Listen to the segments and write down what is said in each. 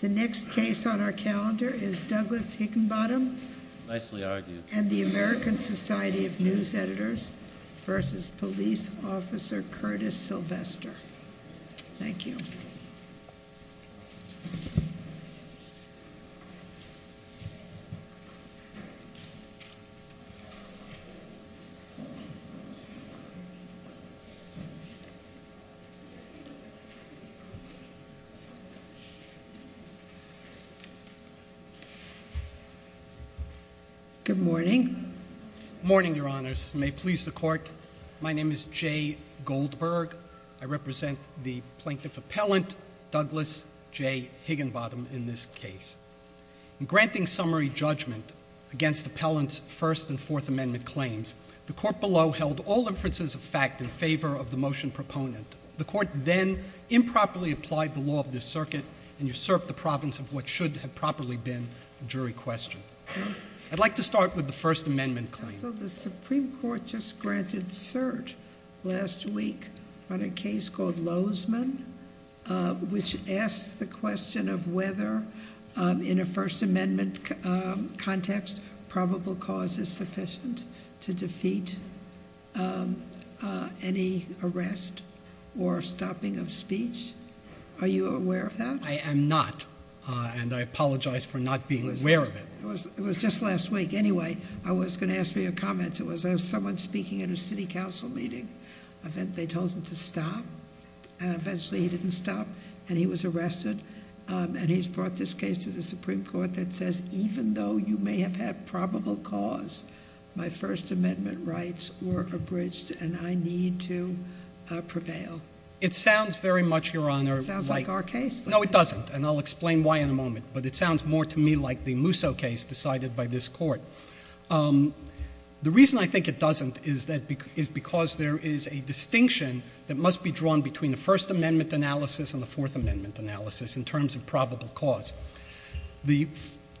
The next case on our calendar is Douglas Higginbotham and the American Society of News Editors v. Police Officer Curtis Sylvester. Thank you. Good morning. Good morning, Your Honors. May it please the Court, my name is Jay Goldberg. I represent the Plaintiff Appellant Douglas J. Higginbotham in this case. In granting summary judgment against Appellant's First and Fourth Amendment claims, the Court below held all inferences of fact in favor of the motion proponent. The Court then improperly applied the law of this circuit and usurped the province of what should have properly been a jury question. I'd like to start with the First Amendment claim. So the Supreme Court just granted cert last week on a case called Lozman, which asks the question of whether, in a First Amendment context, probable cause is sufficient to defeat any arrest or stopping of speech. Are you aware of that? I am not, and I apologize for not being aware of it. It was just last week. Anyway, I was going to ask for your comments. It was someone speaking at a city council meeting. They told him to stop, and eventually he didn't stop, and he was arrested. And he's brought this case to the Supreme Court that says, even though you may have had probable cause, my First Amendment rights were abridged, and I need to prevail. It sounds very much, Your Honor. It sounds like our case. No, it doesn't, and I'll explain why in a moment, but it sounds more to me like the Musso case decided by this Court. The reason I think it doesn't is because there is a distinction that must be drawn between the First Amendment analysis and the Fourth Amendment analysis in terms of probable cause. The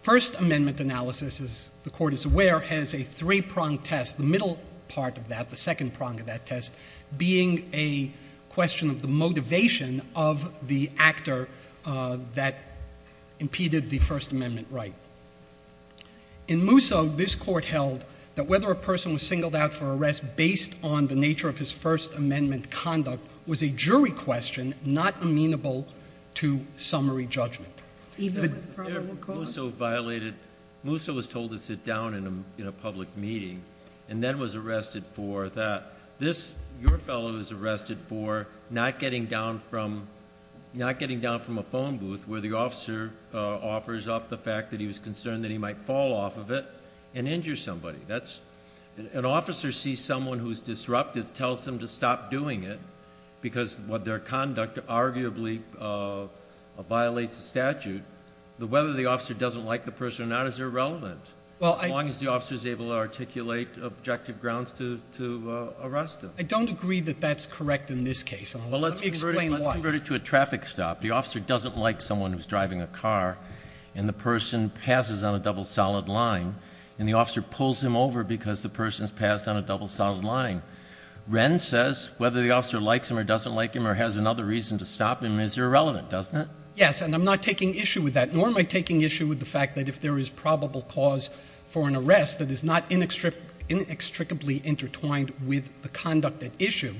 First Amendment analysis, as the Court is aware, has a three-prong test, the middle part of that, the second prong of that test, being a question of the motivation of the actor that impeded the First Amendment right. In Musso, this Court held that whether a person was singled out for arrest based on the nature of his First Amendment conduct was a jury question not amenable to summary judgment. Even with probable cause. Musso was told to sit down in a public meeting and then was arrested for that. Your fellow is arrested for not getting down from a phone booth where the officer offers up the fact that he was concerned that he might fall off of it and injure somebody. An officer sees someone who is disruptive, tells them to stop doing it because their conduct arguably violates the statute. Whether the officer doesn't like the person or not is irrelevant as long as the officer is able to articulate objective grounds to arrest him. I don't agree that that's correct in this case. Let me explain why. Let's convert it to a traffic stop. The officer doesn't like someone who's driving a car and the person passes on a double solid line and the officer pulls him over because the person's passed on a double solid line. Wren says whether the officer likes him or doesn't like him or has another reason to stop him is irrelevant, doesn't it? Yes, and I'm not taking issue with that, nor am I taking issue with the fact that if there is probable cause for an arrest that is not inextricably intertwined with the conduct at issue.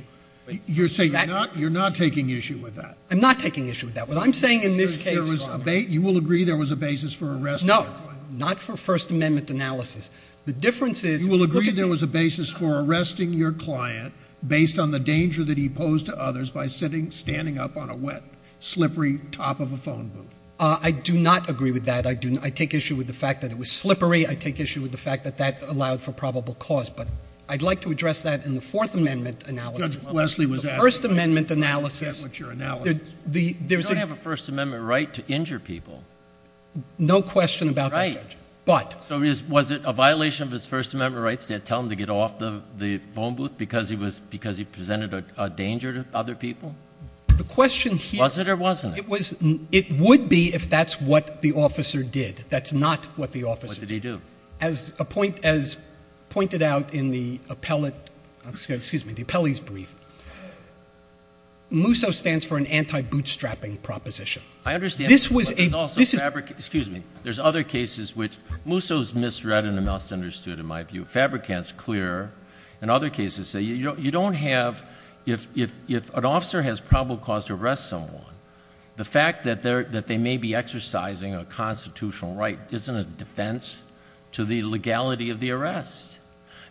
You're saying you're not taking issue with that? I'm not taking issue with that. What I'm saying in this case is— You will agree there was a basis for arresting your client? No, not for First Amendment analysis. The difference is— You will agree there was a basis for arresting your client based on the danger that he posed to others by standing up on a wet, slippery top of a phone booth? I do not agree with that. I take issue with the fact that it was slippery. I take issue with the fact that that allowed for probable cause, but I'd like to address that in the Fourth Amendment analysis. The First Amendment analysis— You don't have a First Amendment right to injure people. No question about that, Judge, but— Was it a violation of his First Amendment rights to tell him to get off the phone booth because he presented a danger to other people? The question here— Was it or wasn't it? It would be if that's what the officer did. That's not what the officer did. What did he do? As pointed out in the appellate—excuse me, the appellee's brief, MUSO stands for an anti-bootstrapping proposition. I understand, but there's also fabric—excuse me. There's other cases which—MUSO is misread and misunderstood, in my view. Fabricant's clear. In other cases, you don't have—if an officer has probable cause to arrest someone, the fact that they may be exercising a constitutional right isn't a defense to the legality of the arrest.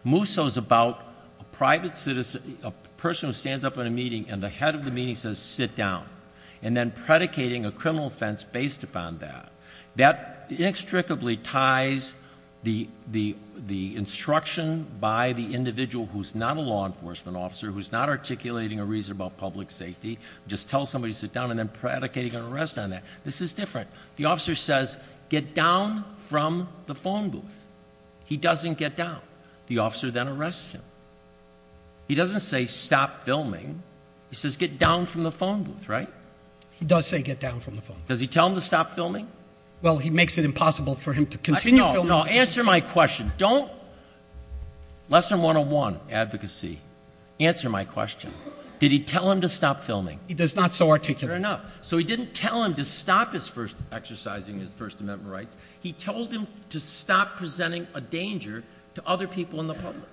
MUSO's about a private citizen, a person who stands up in a meeting, and the head of the meeting says, and then predicating a criminal offense based upon that. That inextricably ties the instruction by the individual who's not a law enforcement officer, who's not articulating a reason about public safety. Just tell somebody to sit down and then predicate an arrest on that. This is different. The officer says, get down from the phone booth. He doesn't get down. The officer then arrests him. He doesn't say, stop filming. He says, get down from the phone booth, right? He does say, get down from the phone booth. Does he tell him to stop filming? Well, he makes it impossible for him to continue filming. No, answer my question. Don't—lesson 101, advocacy. Answer my question. Did he tell him to stop filming? He does not so articulate. Fair enough. So he didn't tell him to stop his first exercising his First Amendment rights. He told him to stop presenting a danger to other people in the public.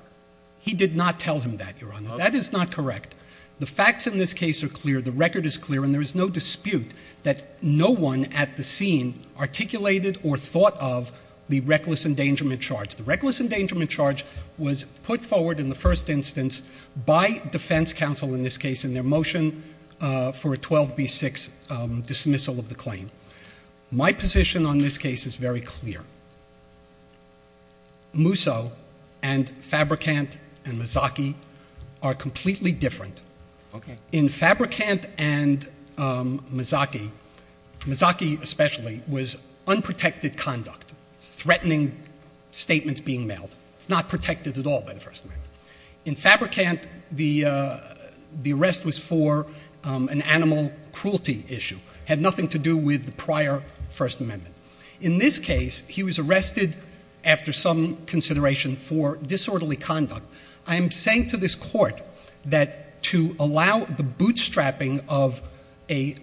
He did not tell him that, Your Honor. That is not correct. The facts in this case are clear. The record is clear. And there is no dispute that no one at the scene articulated or thought of the reckless endangerment charge. The reckless endangerment charge was put forward in the first instance by defense counsel in this case in their motion for a 12B6 dismissal of the claim. My position on this case is very clear. Musso and Fabrikant and Mazzocchi are completely different. Okay. In Fabrikant and Mazzocchi, Mazzocchi especially was unprotected conduct, threatening statements being mailed. It's not protected at all by the First Amendment. In Fabrikant, the arrest was for an animal cruelty issue. It had nothing to do with the prior First Amendment. In this case, he was arrested after some consideration for disorderly conduct. I am saying to this court that to allow the bootstrapping of a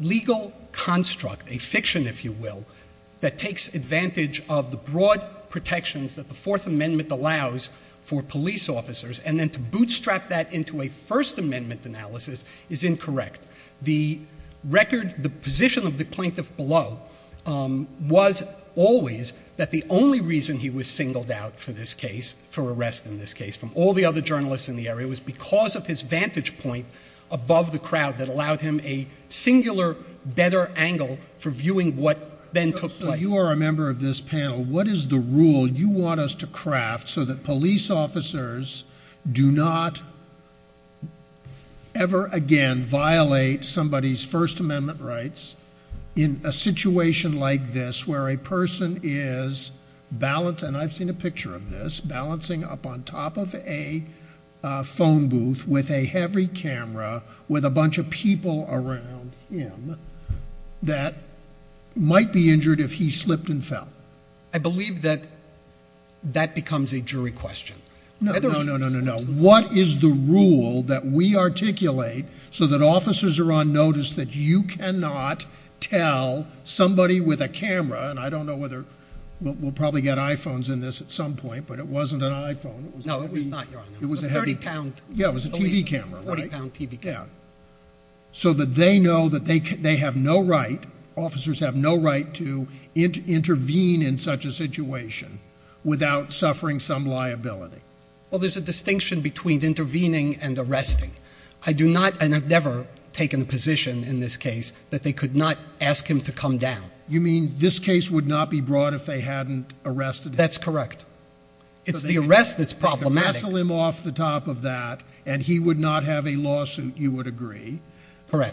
legal construct, a fiction, if you will, that takes advantage of the broad protections that the Fourth Amendment allows for police officers and then to bootstrap that into a First Amendment analysis is incorrect. The position of the plaintiff below was always that the only reason he was singled out for arrest in this case from all the other journalists in the area was because of his vantage point above the crowd that allowed him a singular better angle for viewing what then took place. You are a member of this panel. What is the rule you want us to craft so that police officers do not ever again violate somebody's First Amendment rights in a situation like this where a person is balancing, and I've seen a picture of this, balancing up on top of a phone booth with a heavy camera with a bunch of people around him that might be injured if he slipped and fell? I believe that that becomes a jury question. No, no, no, no, no. What is the rule that we articulate so that officers are on notice that you cannot tell somebody with a camera, and I don't know whether we'll probably get iPhones in this at some point, but it wasn't an iPhone. No, it was not, Your Honor. It was a heavy camera. A 30-pound. Yeah, it was a TV camera, right? A 40-pound TV camera. Yeah. So that they know that they have no right, officers have no right to intervene in such a situation without suffering some liability. Well, there's a distinction between intervening and arresting. I do not, and I've never taken a position in this case that they could not ask him to come down. You mean this case would not be brought if they hadn't arrested him? That's correct. It's the arrest that's problematic. So they could wrestle him off the top of that, and he would not have a lawsuit, you would agree,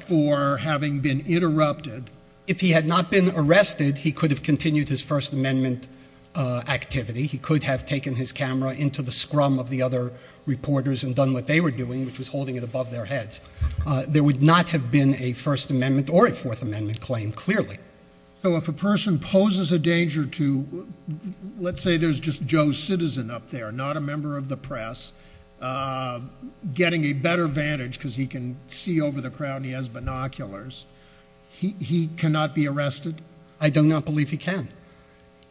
for having been interrupted. If he had not been arrested, he could have continued his First Amendment activity. He could have taken his camera into the scrum of the other reporters and done what they were doing, which was holding it above their heads. There would not have been a First Amendment or a Fourth Amendment claim, clearly. So if a person poses a danger to, let's say there's just Joe Citizen up there, not a member of the press, getting a better vantage because he can see over the crowd and he has binoculars, he cannot be arrested? I do not believe he can.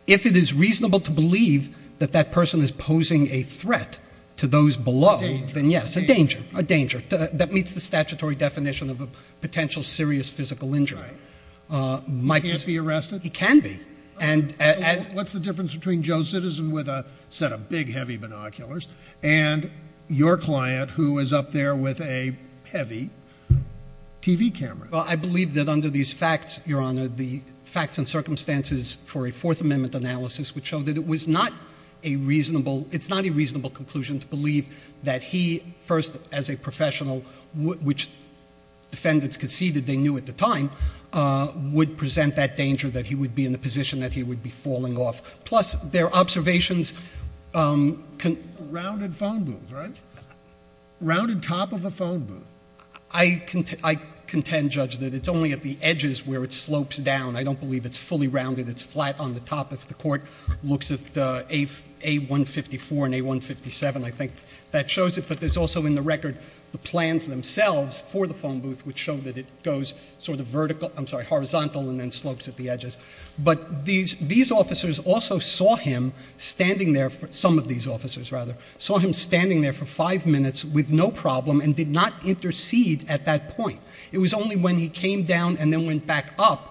If it is reasonable to believe that that person is posing a threat to those below, then yes, a danger, a danger. That meets the statutory definition of a potential serious physical injury. He can't be arrested? He can be. What's the difference between Joe Citizen with a set of big, heavy binoculars and your client who is up there with a heavy TV camera? Well, I believe that under these facts, Your Honor, the facts and circumstances for a Fourth Amendment analysis would show that it's not a reasonable conclusion to believe that he, first as a professional, which defendants conceded they knew at the time, would present that danger that he would be in a position that he would be falling off. Plus, there are observations. Rounded phone booth, right? Rounded top of a phone booth. I contend, Judge, that it's only at the edges where it slopes down. I don't believe it's fully rounded. It's flat on the top. If the court looks at A154 and A157, I think that shows it. But there's also in the record the plans themselves for the phone booth which show that it goes sort of horizontal and then slopes at the edges. But these officers also saw him standing there, some of these officers rather, saw him standing there for five minutes with no problem and did not intercede at that point. It was only when he came down and then went back up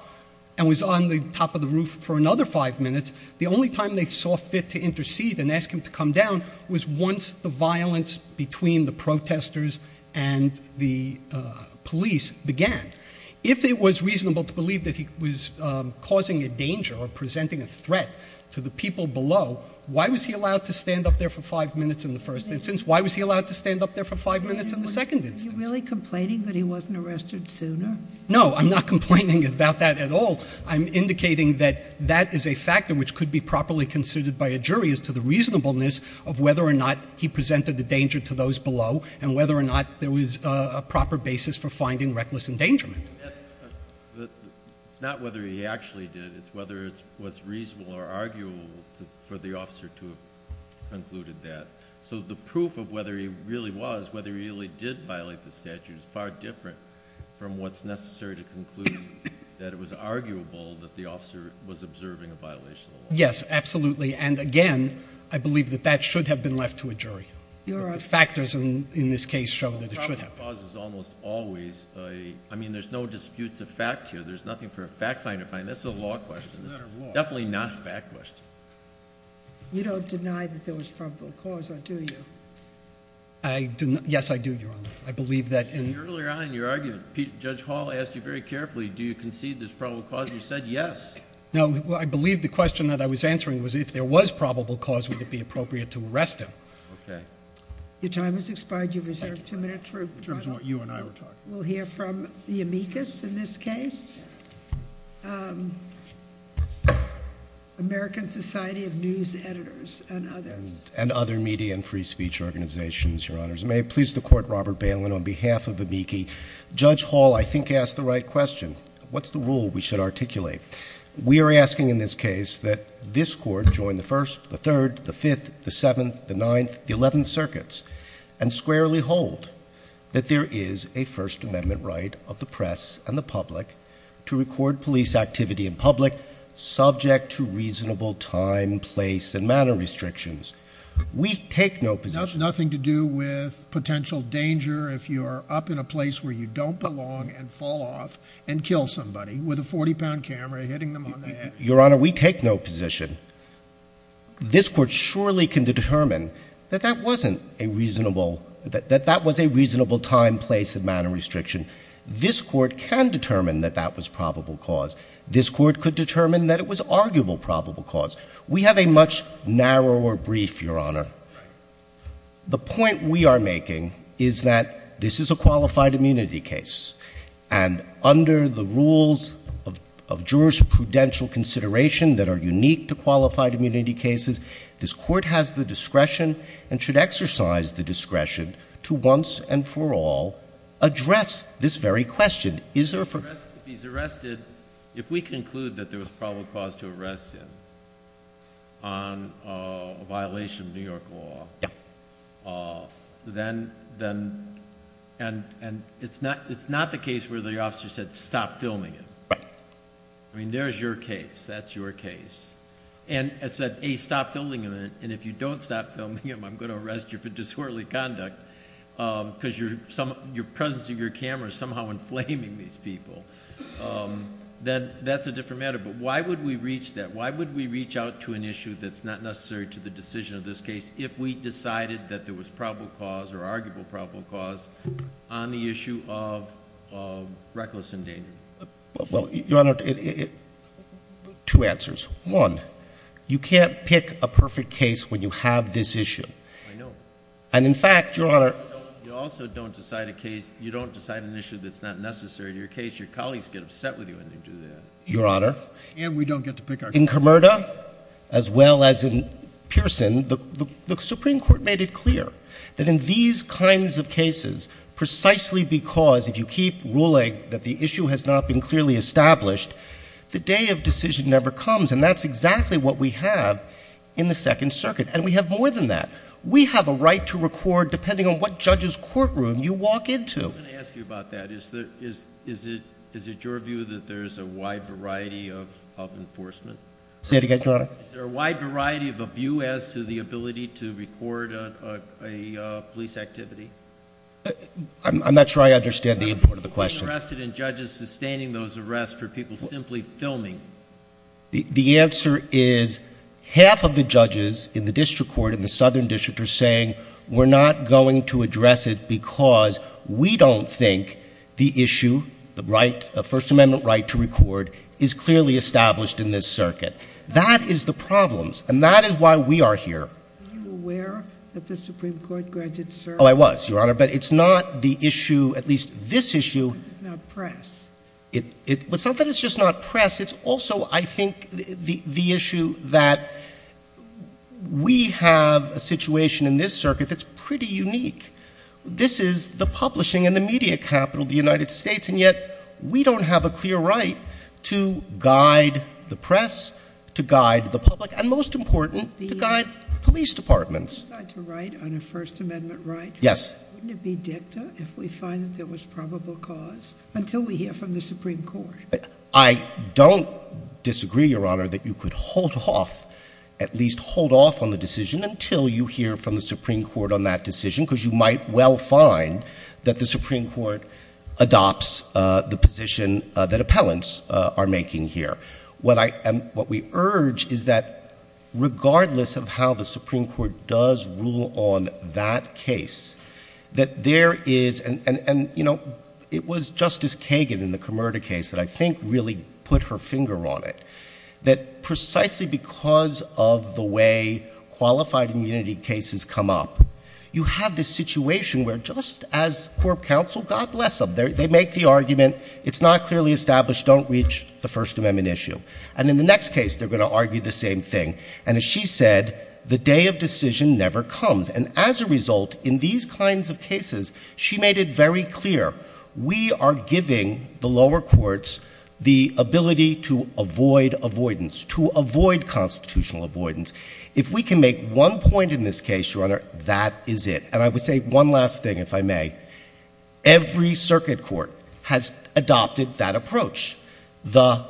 and was on the top of the roof for another five minutes, the only time they saw fit to intercede and ask him to come down was once the violence between the protesters and the police began. If it was reasonable to believe that he was causing a danger or presenting a threat to the people below, why was he allowed to stand up there for five minutes in the first instance? Why was he allowed to stand up there for five minutes in the second instance? Are you really complaining that he wasn't arrested sooner? No, I'm not complaining about that at all. I'm indicating that that is a factor which could be properly considered by a jury as to the reasonableness of whether or not he presented a danger to those below and whether or not there was a proper basis for finding reckless endangerment. It's not whether he actually did. It's whether it was reasonable or arguable for the officer to have concluded that. So the proof of whether he really was, whether he really did violate the statute, is far different from what's necessary to conclude that it was arguable that the officer was observing a violation of the law. Yes, absolutely, and again, I believe that that should have been left to a jury. The factors in this case show that it should have been. The problem is almost always, I mean, there's no disputes of fact here. There's nothing for a fact finder to find. This is a law question. It's definitely not a fact question. You don't deny that there was probable cause, do you? Yes, I do, Your Honor. Earlier on in your argument, Judge Hall asked you very carefully, do you concede there's probable cause? You said yes. No, I believe the question that I was answering was if there was probable cause, would it be appropriate to arrest him? Okay. Your time has expired. You've reserved two minutes. We'll hear from the amicus in this case. American Society of News Editors and others. And other media and free speech organizations, Your Honors. May it please the Court, Robert Bailin, on behalf of amicus. Judge Hall, I think, asked the right question. What's the rule we should articulate? We are asking in this case that this Court join the First, the Third, the Fifth, the Seventh, the Ninth, the Eleventh Circuits, and squarely hold that there is a First Amendment right of the press and the public to record police activity in public subject to reasonable time, place, and manner restrictions. We take no position. Nothing to do with potential danger if you are up in a place where you don't belong and fall off and kill somebody with a 40-pound camera hitting them on the head. Your Honor, we take no position. This Court surely can determine that that wasn't a reasonable, that that was a reasonable time, place, and manner restriction. This Court can determine that that was probable cause. This Court could determine that it was arguable probable cause. We have a much narrower brief, Your Honor. The point we are making is that this is a qualified immunity case. And under the rules of jurisprudential consideration that are unique to qualified immunity cases, this Court has the discretion and should exercise the discretion to once and for all address this very question. If he's arrested, if we conclude that there was probable cause to arrest him on a violation of New York law, then it's not the case where the officer said, stop filming him. Right. I mean, there's your case. That's your case. And it said, A, stop filming him, and if you don't stop filming him, I'm going to arrest you for disorderly conduct because the presence of your camera is somehow inflaming these people. That's a different matter. But why would we reach that? Why would we reach out to an issue that's not necessary to the decision of this case if we decided that there was probable cause or arguable probable cause on the issue of reckless endangerment? Well, Your Honor, two answers. One, you can't pick a perfect case when you have this issue. I know. And, in fact, Your Honor, You also don't decide an issue that's not necessary to your case. Your colleagues get upset with you when you do that. Your Honor, And we don't get to pick our case. In Comirta, as well as in Pearson, the Supreme Court made it clear that in these kinds of cases, precisely because if you keep ruling that the issue has not been clearly established, the day of decision never comes, and that's exactly what we have in the Second Circuit. And we have more than that. We have a right to record depending on what judge's courtroom you walk into. Let me ask you about that. Is it your view that there's a wide variety of enforcement? Say that again, Your Honor? Is there a wide variety of a view as to the ability to record a police activity? I'm not sure I understand the import of the question. Are you interested in judges sustaining those arrests or people simply filming? The answer is half of the judges in the district court, in the Southern District, are saying we're not going to address it because we don't think the issue, the First Amendment right to record, is clearly established in this circuit. That is the problem, and that is why we are here. Were you aware that the Supreme Court granted certain rights? Oh, I was, Your Honor, but it's not the issue, at least this issue. Because it's not press. It's not that it's just not press. It's also, I think, the issue that we have a situation in this circuit that's pretty unique. This is the publishing and the media capital of the United States, and yet we don't have a clear right to guide the press, to guide the public, and most important, to guide police departments. If we decide to write on a First Amendment right, wouldn't it be dicta if we find that there was probable cause until we hear from the Supreme Court? I don't disagree, Your Honor, that you could hold off, at least hold off on the decision until you hear from the Supreme Court on that decision, because you might well find that the Supreme Court adopts the position that appellants are making here. What we urge is that regardless of how the Supreme Court does rule on that case, that there is, and, you know, it was Justice Kagan in the Comerda case that I think really put her finger on it, that precisely because of the way qualified immunity cases come up, you have this situation where just as court counsel, God bless them, they make the argument, it's not clearly established, don't reach the First Amendment issue. And in the next case, they're going to argue the same thing. And as she said, the day of decision never comes. And as a result, in these kinds of cases, she made it very clear, we are giving the lower courts the ability to avoid avoidance, to avoid constitutional avoidance. If we can make one point in this case, Your Honor, that is it. And I would say one last thing, if I may. Every circuit court has adopted that approach. The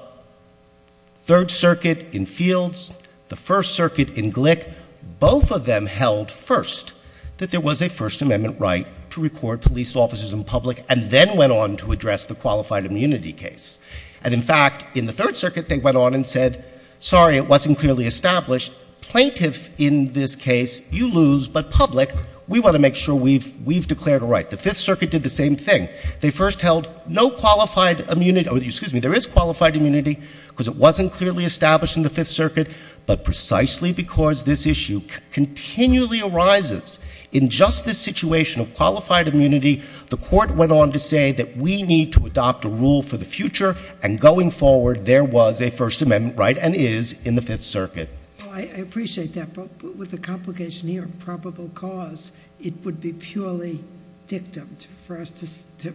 Third Circuit in Fields, the First Circuit in Glick, both of them held first that there was a First Amendment right to record police officers in public and then went on to address the qualified immunity case. And in fact, in the Third Circuit, they went on and said, sorry, it wasn't clearly established. Plaintiff in this case, you lose, but public, we want to make sure we've declared a right. The Fifth Circuit did the same thing. They first held no qualified immunity or excuse me, there is qualified immunity because it wasn't clearly established in the Fifth Circuit, but precisely because this issue continually arises in just this situation of qualified immunity, the court went on to say that we need to adopt a rule for the future and going forward there was a First Amendment right and is in the Fifth Circuit. I appreciate that, but with the complication here of probable cause, it would be purely dictum for us to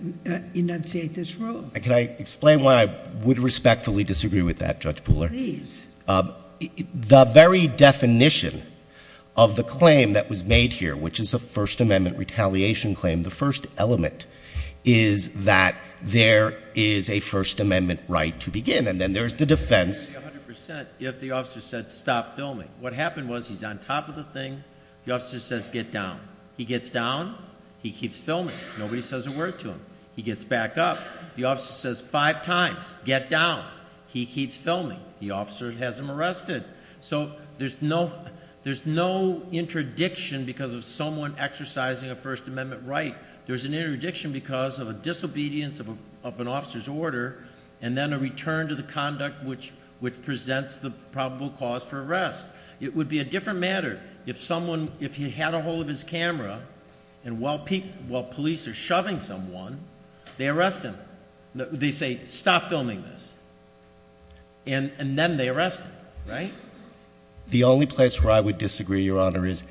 enunciate this rule. Can I explain why I would respectfully disagree with that, Judge Pooler? Please. The very definition of the claim that was made here, which is a First Amendment retaliation claim, the first element is that there is a First Amendment right to begin and then there's the defense. I would disagree 100% if the officer said stop filming. What happened was he's on top of the thing. The officer says get down. He gets down. He keeps filming. Nobody says a word to him. He gets back up. The officer says five times get down. He keeps filming. The officer has him arrested. So there's no interdiction because of someone exercising a First Amendment right. There's an interdiction because of a disobedience of an officer's order and then a return to the conduct which presents the probable cause for arrest. It would be a different matter if someone, if he had a hold of his camera and while police are shoving someone, they arrest him. They say stop filming this, and then they arrest him, right? The only place where I would disagree, Your Honor, is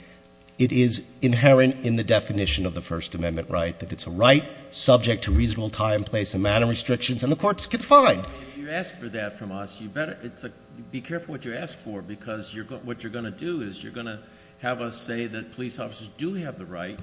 it is inherent in the definition of the First Amendment right that it's a right subject to reasonable time, place, and manner restrictions, and the courts can find. Well, if you ask for that from us, you better be careful what you ask for because what you're going to do is you're going to have us say that police officers do have the right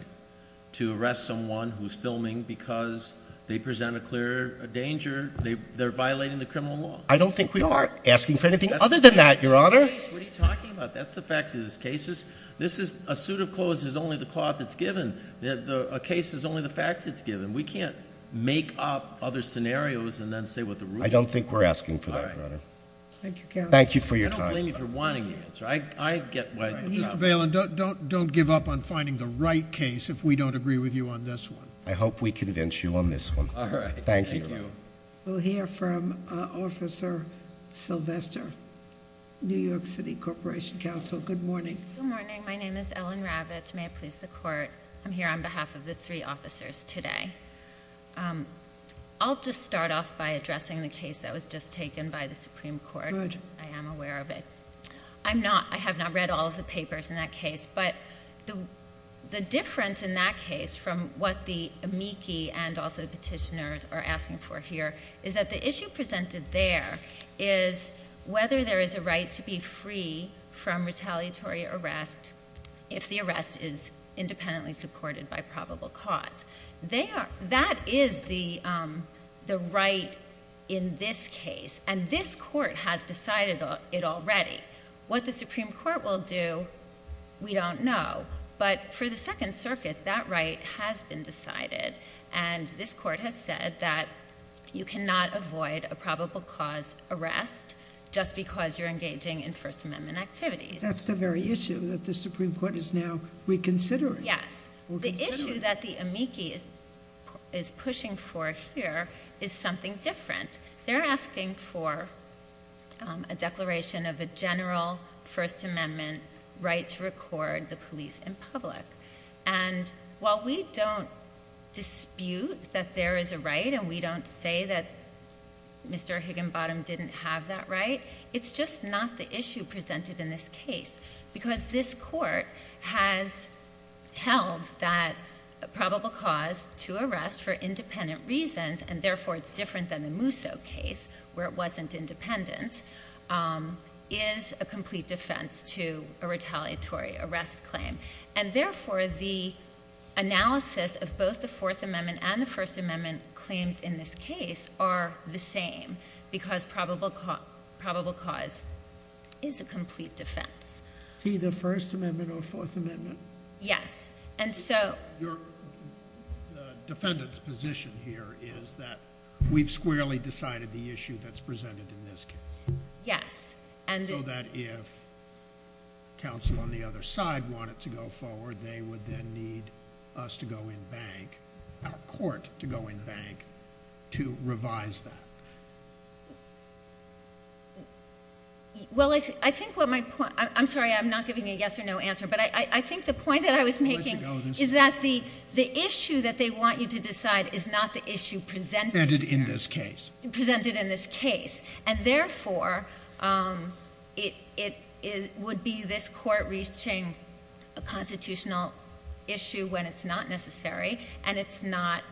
to arrest someone who's filming because they present a clear danger. They're violating the criminal law. I don't think we are asking for anything other than that, Your Honor. What are you talking about? That's the facts of this case. A suit of clothes is only the cloth that's given. A case is only the facts that's given. We can't make up other scenarios and then say what the rules are. I don't think we're asking for that, Your Honor. Thank you, counsel. Thank you for your time. I don't blame you for wanting the answer. Mr. Bailen, don't give up on finding the right case if we don't agree with you on this one. I hope we convince you on this one. All right. Thank you. We'll hear from Officer Sylvester, New York City Corporation Counsel. Good morning. Good morning. My name is Ellen Ravitch. May it please the Court. I'm here on behalf of the three officers today. I'll just start off by addressing the case that was just taken by the Supreme Court. Good. I am aware of it. I have not read all of the papers in that case. But the difference in that case from what the amici and also the petitioners are asking for here is that the issue presented there is whether there is a right to be free from retaliatory arrest if the arrest is independently supported by probable cause. That is the right in this case, and this Court has decided it already. What the Supreme Court will do, we don't know. But for the Second Circuit, that right has been decided, and this Court has said that you cannot avoid a probable cause arrest just because you're engaging in First Amendment activities. That's the very issue that the Supreme Court is now reconsidering. Yes. The issue that the amici is pushing for here is something different. They're asking for a declaration of a general First Amendment right to record the police in public. And while we don't dispute that there is a right and we don't say that Mr. Higginbottom didn't have that right, it's just not the issue presented in this case because this Court has held that probable cause to arrest for independent reasons, and therefore it's different than the Mousseau case where it wasn't independent, is a complete defense to a retaliatory arrest claim. And therefore the analysis of both the Fourth Amendment and the First Amendment claims in this case are the same because probable cause is a complete defense. It's either First Amendment or Fourth Amendment? Yes. Your defendant's position here is that we've squarely decided the issue that's presented in this case. Yes. So that if counsel on the other side wanted to go forward, they would then need us to go in bank, our court to go in bank, to revise that. Well, I think what my point, I'm sorry I'm not giving a yes or no answer, but I think the point that I was making is that the issue that they want you to decide is not the issue presented in this case. And therefore it would be this Court reaching a constitutional issue when it's not necessary, and it's not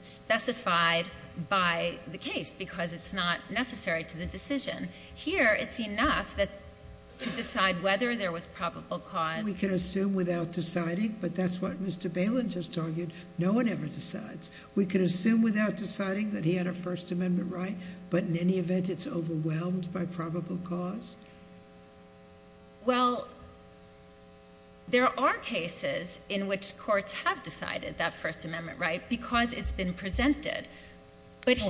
specified by the case because it's not necessary to the decision. Here it's enough to decide whether there was probable cause. We can assume without deciding, but that's what Mr. Balin just argued. No one ever decides. We can assume without deciding that he had a First Amendment right, but in any event it's overwhelmed by probable cause? Well, there are cases in which courts have decided that First Amendment right because it's been presented.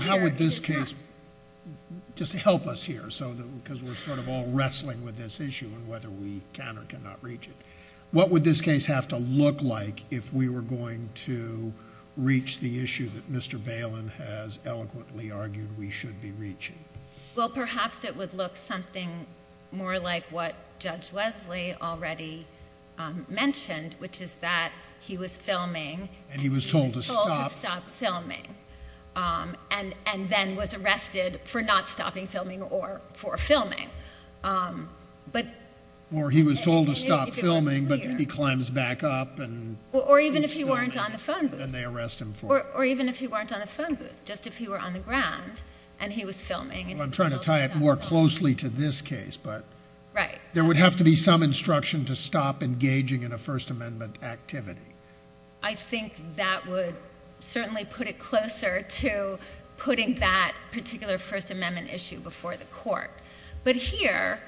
How would this case, just to help us here because we're sort of all wrestling with this issue and whether we can or cannot reach it, what would this case have to look like if we were going to reach the issue that Mr. Balin has eloquently argued we should be reaching? Well, perhaps it would look something more like what Judge Wesley already mentioned, which is that he was filming and he was told to stop filming and then was arrested for not stopping filming or for filming. Or he was told to stop filming, but he climbs back up. Or even if he weren't on the phone booth. And they arrest him for it. Or even if he weren't on the phone booth. Just if he were on the ground and he was filming. I'm trying to tie it more closely to this case, but there would have to be some instruction to stop engaging in a First Amendment activity. I think that would certainly put it closer to putting that particular First Amendment issue before the court. But here,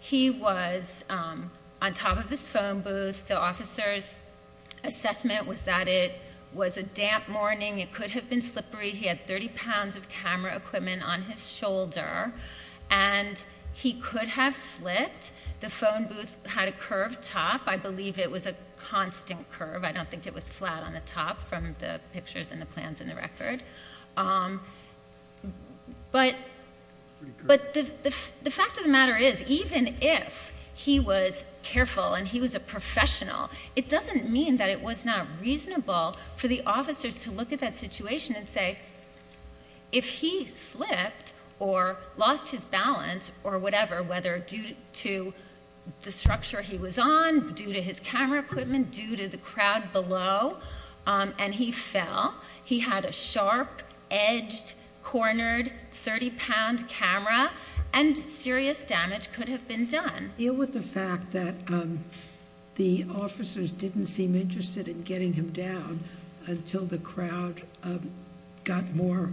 he was on top of his phone booth. The officer's assessment was that it was a damp morning. It could have been slippery. He had 30 pounds of camera equipment on his shoulder, and he could have slipped. The phone booth had a curved top. I believe it was a constant curve. I don't think it was flat on the top from the pictures and the plans in the record. But the fact of the matter is, even if he was careful and he was a professional, it doesn't mean that it was not reasonable for the officers to look at that situation and say, if he slipped or lost his balance or whatever, whether due to the structure he was on, due to his camera equipment, due to the crowd below, and he fell, he had a sharp, edged, cornered 30-pound camera, and serious damage could have been done. Deal with the fact that the officers didn't seem interested in getting him down until the crowd got more,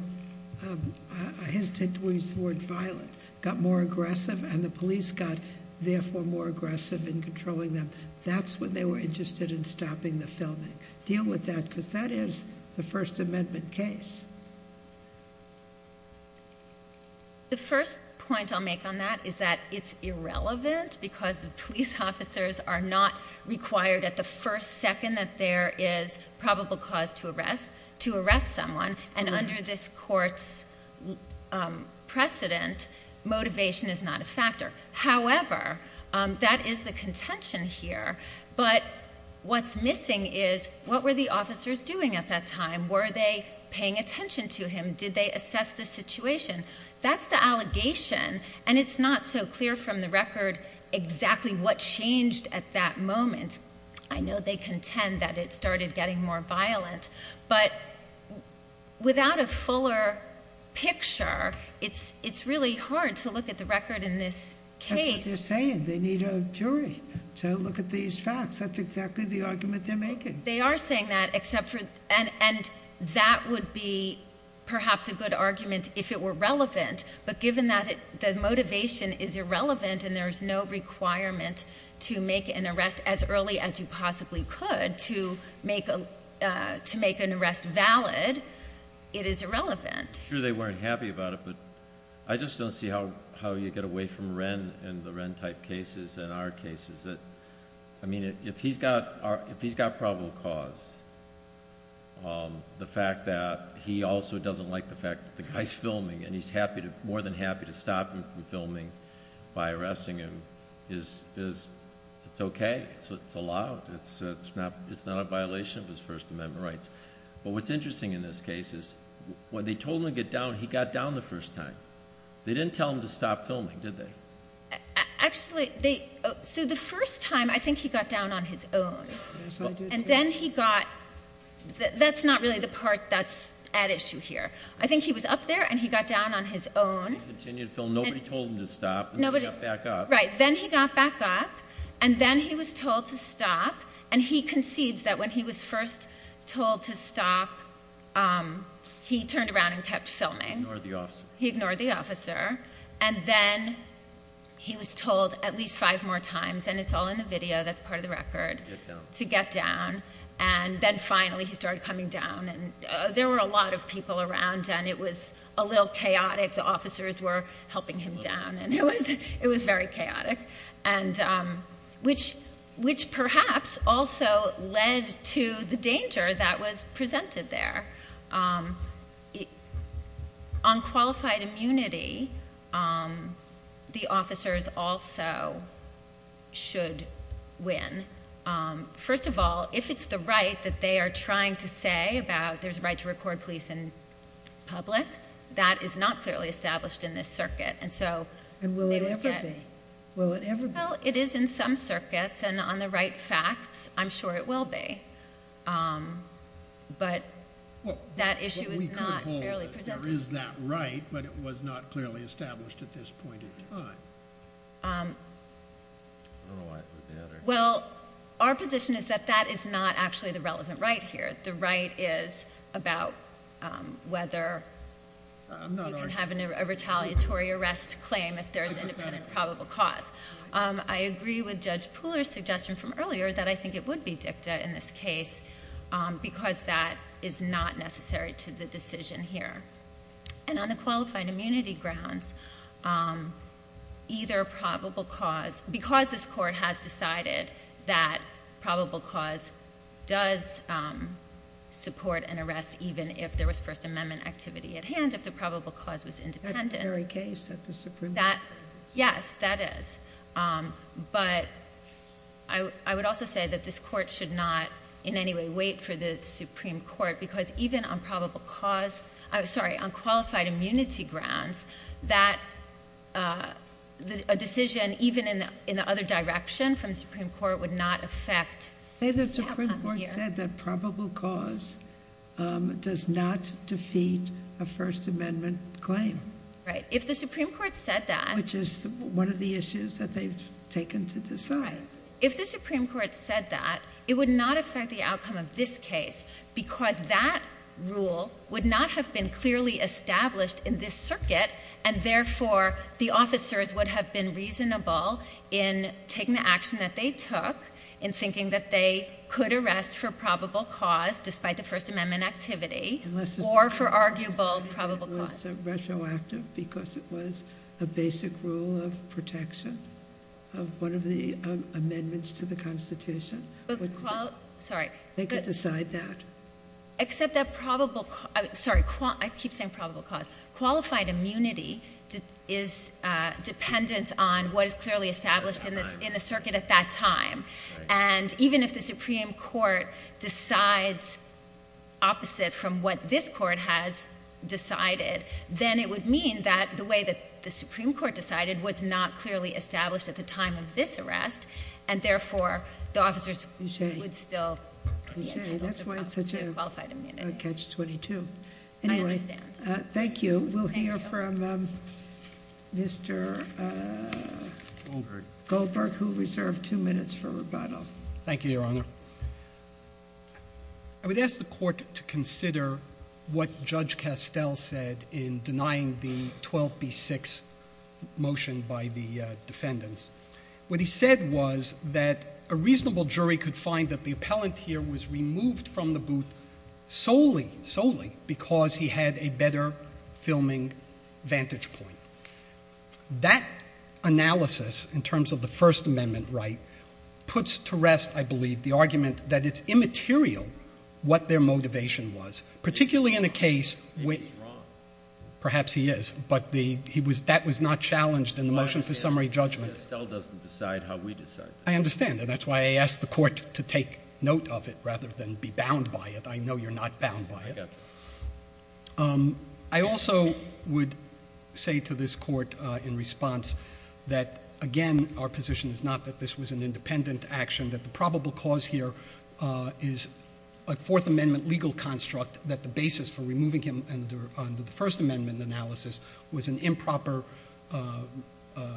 I hesitate to use the word violent, got more aggressive, and the police got, therefore, more aggressive in controlling them. That's when they were interested in stopping the filming. Deal with that because that is the First Amendment case. The first point I'll make on that is that it's irrelevant because police officers are not required at the first second that there is probable cause to arrest, to arrest someone, and under this court's precedent, motivation is not a factor. However, that is the contention here, but what's missing is what were the officers doing at that time? Were they paying attention to him? Did they assess the situation? That's the allegation, and it's not so clear from the record exactly what changed at that moment. I know they contend that it started getting more violent, but without a fuller picture, it's really hard to look at the record in this case. That's what they're saying. They need a jury to look at these facts. That's exactly the argument they're making. They are saying that, and that would be perhaps a good argument if it were relevant, but given that the motivation is irrelevant and there is no requirement to make an arrest as early as you possibly could to make an arrest valid, it is irrelevant. I'm sure they weren't happy about it, but I just don't see how you get away from Wren and the Wren-type cases and our cases. If he's got probable cause, the fact that he also doesn't like the fact that the guy's filming and he's more than happy to stop him from filming by arresting him, it's okay. It's allowed. It's not a violation of his First Amendment rights, but what's interesting in this case is when they told him to get down, he got down the first time. They didn't tell him to stop filming, did they? Actually, the first time, I think he got down on his own. Yes, I do, too. And then he got up. That's not really the part that's at issue here. I think he was up there, and he got down on his own. He continued to film. Nobody told him to stop, and then he got back up. Right, then he got back up, and then he was told to stop, and he concedes that when he was first told to stop, he turned around and kept filming. Ignored the officer. He ignored the officer, and then he was told at least five more times, and it's all in the video that's part of the record, to get down, and then finally he started coming down, and there were a lot of people around, and it was a little chaotic. The officers were helping him down, and it was very chaotic, which perhaps also led to the danger that was presented there. On qualified immunity, the officers also should win. First of all, if it's the right that they are trying to say about there's a right to record police in public, that is not clearly established in this circuit. Will it ever be? Well, it is in some circuits, and on the right facts, I'm sure it will be, but that issue is not fairly presented. We could hold that there is that right, but it was not clearly established at this point in time. I don't know why I put that there. Well, our position is that that is not actually the relevant right here. The right is about whether you can have a retaliatory arrest claim if there's independent probable cause. I agree with Judge Pooler's suggestion from earlier that I think it would be dicta in this case, because that is not necessary to the decision here. On the qualified immunity grounds, either probable cause, because this court has decided that probable cause does support an arrest even if there was First Amendment activity at hand, if the probable cause was independent. That's the very case at the Supreme Court. Yes, that is, but I would also say that this court should not in any way wait for the Supreme Court, because even on qualified immunity grounds, that a decision even in the other direction from the Supreme Court would not affect outcome here. Say the Supreme Court said that probable cause does not defeat a First Amendment claim. Right. If the Supreme Court said that... Which is one of the issues that they've taken to decide. Right. If the Supreme Court said that, it would not affect the outcome of this case, because that rule would not have been clearly established in this circuit, and therefore the officers would have been reasonable in taking the action that they took, in thinking that they could arrest for probable cause despite the First Amendment activity, or for arguable probable cause. Unless it was retroactive because it was a basic rule of protection of one of the amendments to the Constitution. Sorry. They could decide that. Except that probable... Sorry, I keep saying probable cause. Qualified immunity is dependent on what is clearly established in the circuit at that time. And even if the Supreme Court decides opposite from what this court has decided, then it would mean that the way that the Supreme Court decided was not clearly established at the time of this arrest, and therefore the officers would still... That's why it's such a catch-22. I understand. Thank you. We'll hear from Mr. Goldberg, who reserved two minutes for rebuttal. Thank you, Your Honor. I would ask the Court to consider what Judge Castell said in denying the 12B6 motion by the defendants. What he said was that a reasonable jury could find that the appellant here was removed from the booth solely, solely, because he had a better filming vantage point. That analysis, in terms of the First Amendment right, puts to rest, I believe, the argument that it's immaterial what their motivation was, particularly in a case... Maybe he's wrong. Perhaps he is, but that was not challenged in the motion for summary judgment. Judge Castell doesn't decide how we decide. I understand, and that's why I asked the Court to take note of it rather than be bound by it. I know you're not bound by it. I also would say to this Court in response that, again, our position is not that this was an independent action, that the probable cause here is a Fourth Amendment legal construct that the basis for removing him under the First Amendment analysis was an improper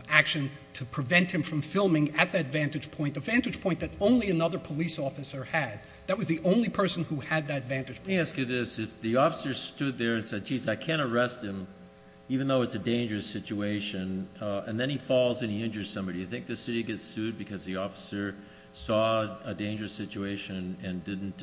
action to prevent him from filming at that vantage point, a vantage point that only another police officer had. That was the only person who had that vantage point. Let me ask you this. If the officer stood there and said, geez, I can't arrest him, even though it's a dangerous situation, and then he falls and he injures somebody, do you think the city gets sued because the officer saw a dangerous situation and didn't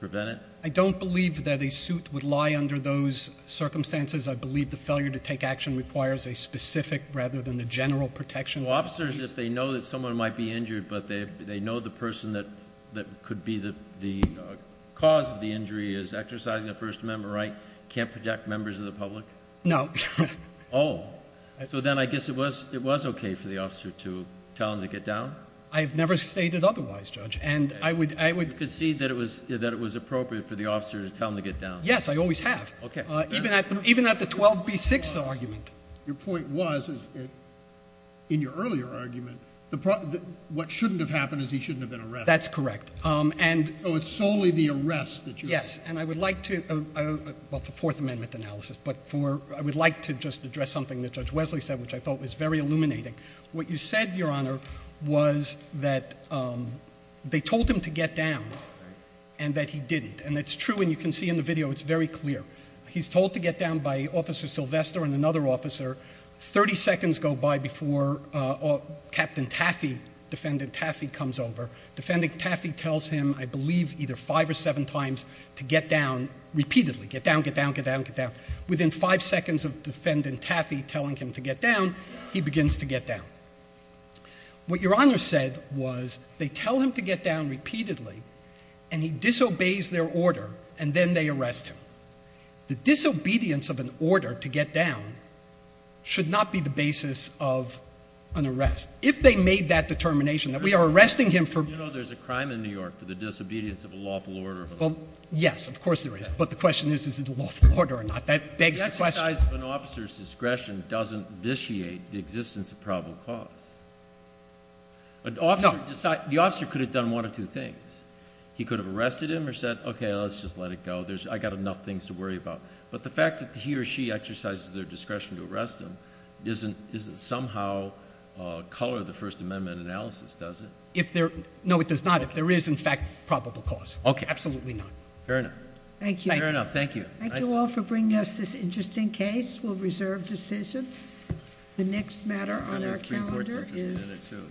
prevent it? I don't believe that a suit would lie under those circumstances. I believe the failure to take action requires a specific rather than a general protection. Well, officers, if they know that someone might be injured but they know the person that could be the cause of the injury is exercising a First Amendment right, can't protect members of the public? No. Oh. So then I guess it was okay for the officer to tell him to get down? I have never stated otherwise, Judge. And I would— You concede that it was appropriate for the officer to tell him to get down? Yes, I always have. Okay. Even at the 12b-6 argument. Your point was, in your earlier argument, what shouldn't have happened is he shouldn't have been arrested. That's correct. So it's solely the arrest that you— Yes. And I would like to—well, for Fourth Amendment analysis, but I would like to just address something that Judge Wesley said, which I thought was very illuminating. What you said, Your Honor, was that they told him to get down and that he didn't. And that's true, and you can see in the video it's very clear. He's told to get down by Officer Sylvester and another officer. Thirty seconds go by before Captain Taffy, Defendant Taffy, comes over. Defendant Taffy tells him, I believe, either five or seven times to get down repeatedly. Get down, get down, get down, get down. Within five seconds of Defendant Taffy telling him to get down, he begins to get down. What Your Honor said was they tell him to get down repeatedly, and he disobeys their order, and then they arrest him. The disobedience of an order to get down should not be the basis of an arrest. If they made that determination that we are arresting him for— You know there's a crime in New York for the disobedience of a lawful order. Well, yes, of course there is. But the question is, is it a lawful order or not? That begs the question. The exercise of an officer's discretion doesn't vitiate the existence of probable cause. No. The officer could have done one of two things. He could have arrested him or said, okay, let's just let it go. I've got enough things to worry about. But the fact that he or she exercises their discretion to arrest him doesn't somehow color the First Amendment analysis, does it? No, it does not if there is, in fact, probable cause. Okay. Absolutely not. Fair enough. Thank you. Thank you all for bringing us this interesting case. We'll reserve decision. The next matter on our calendar is—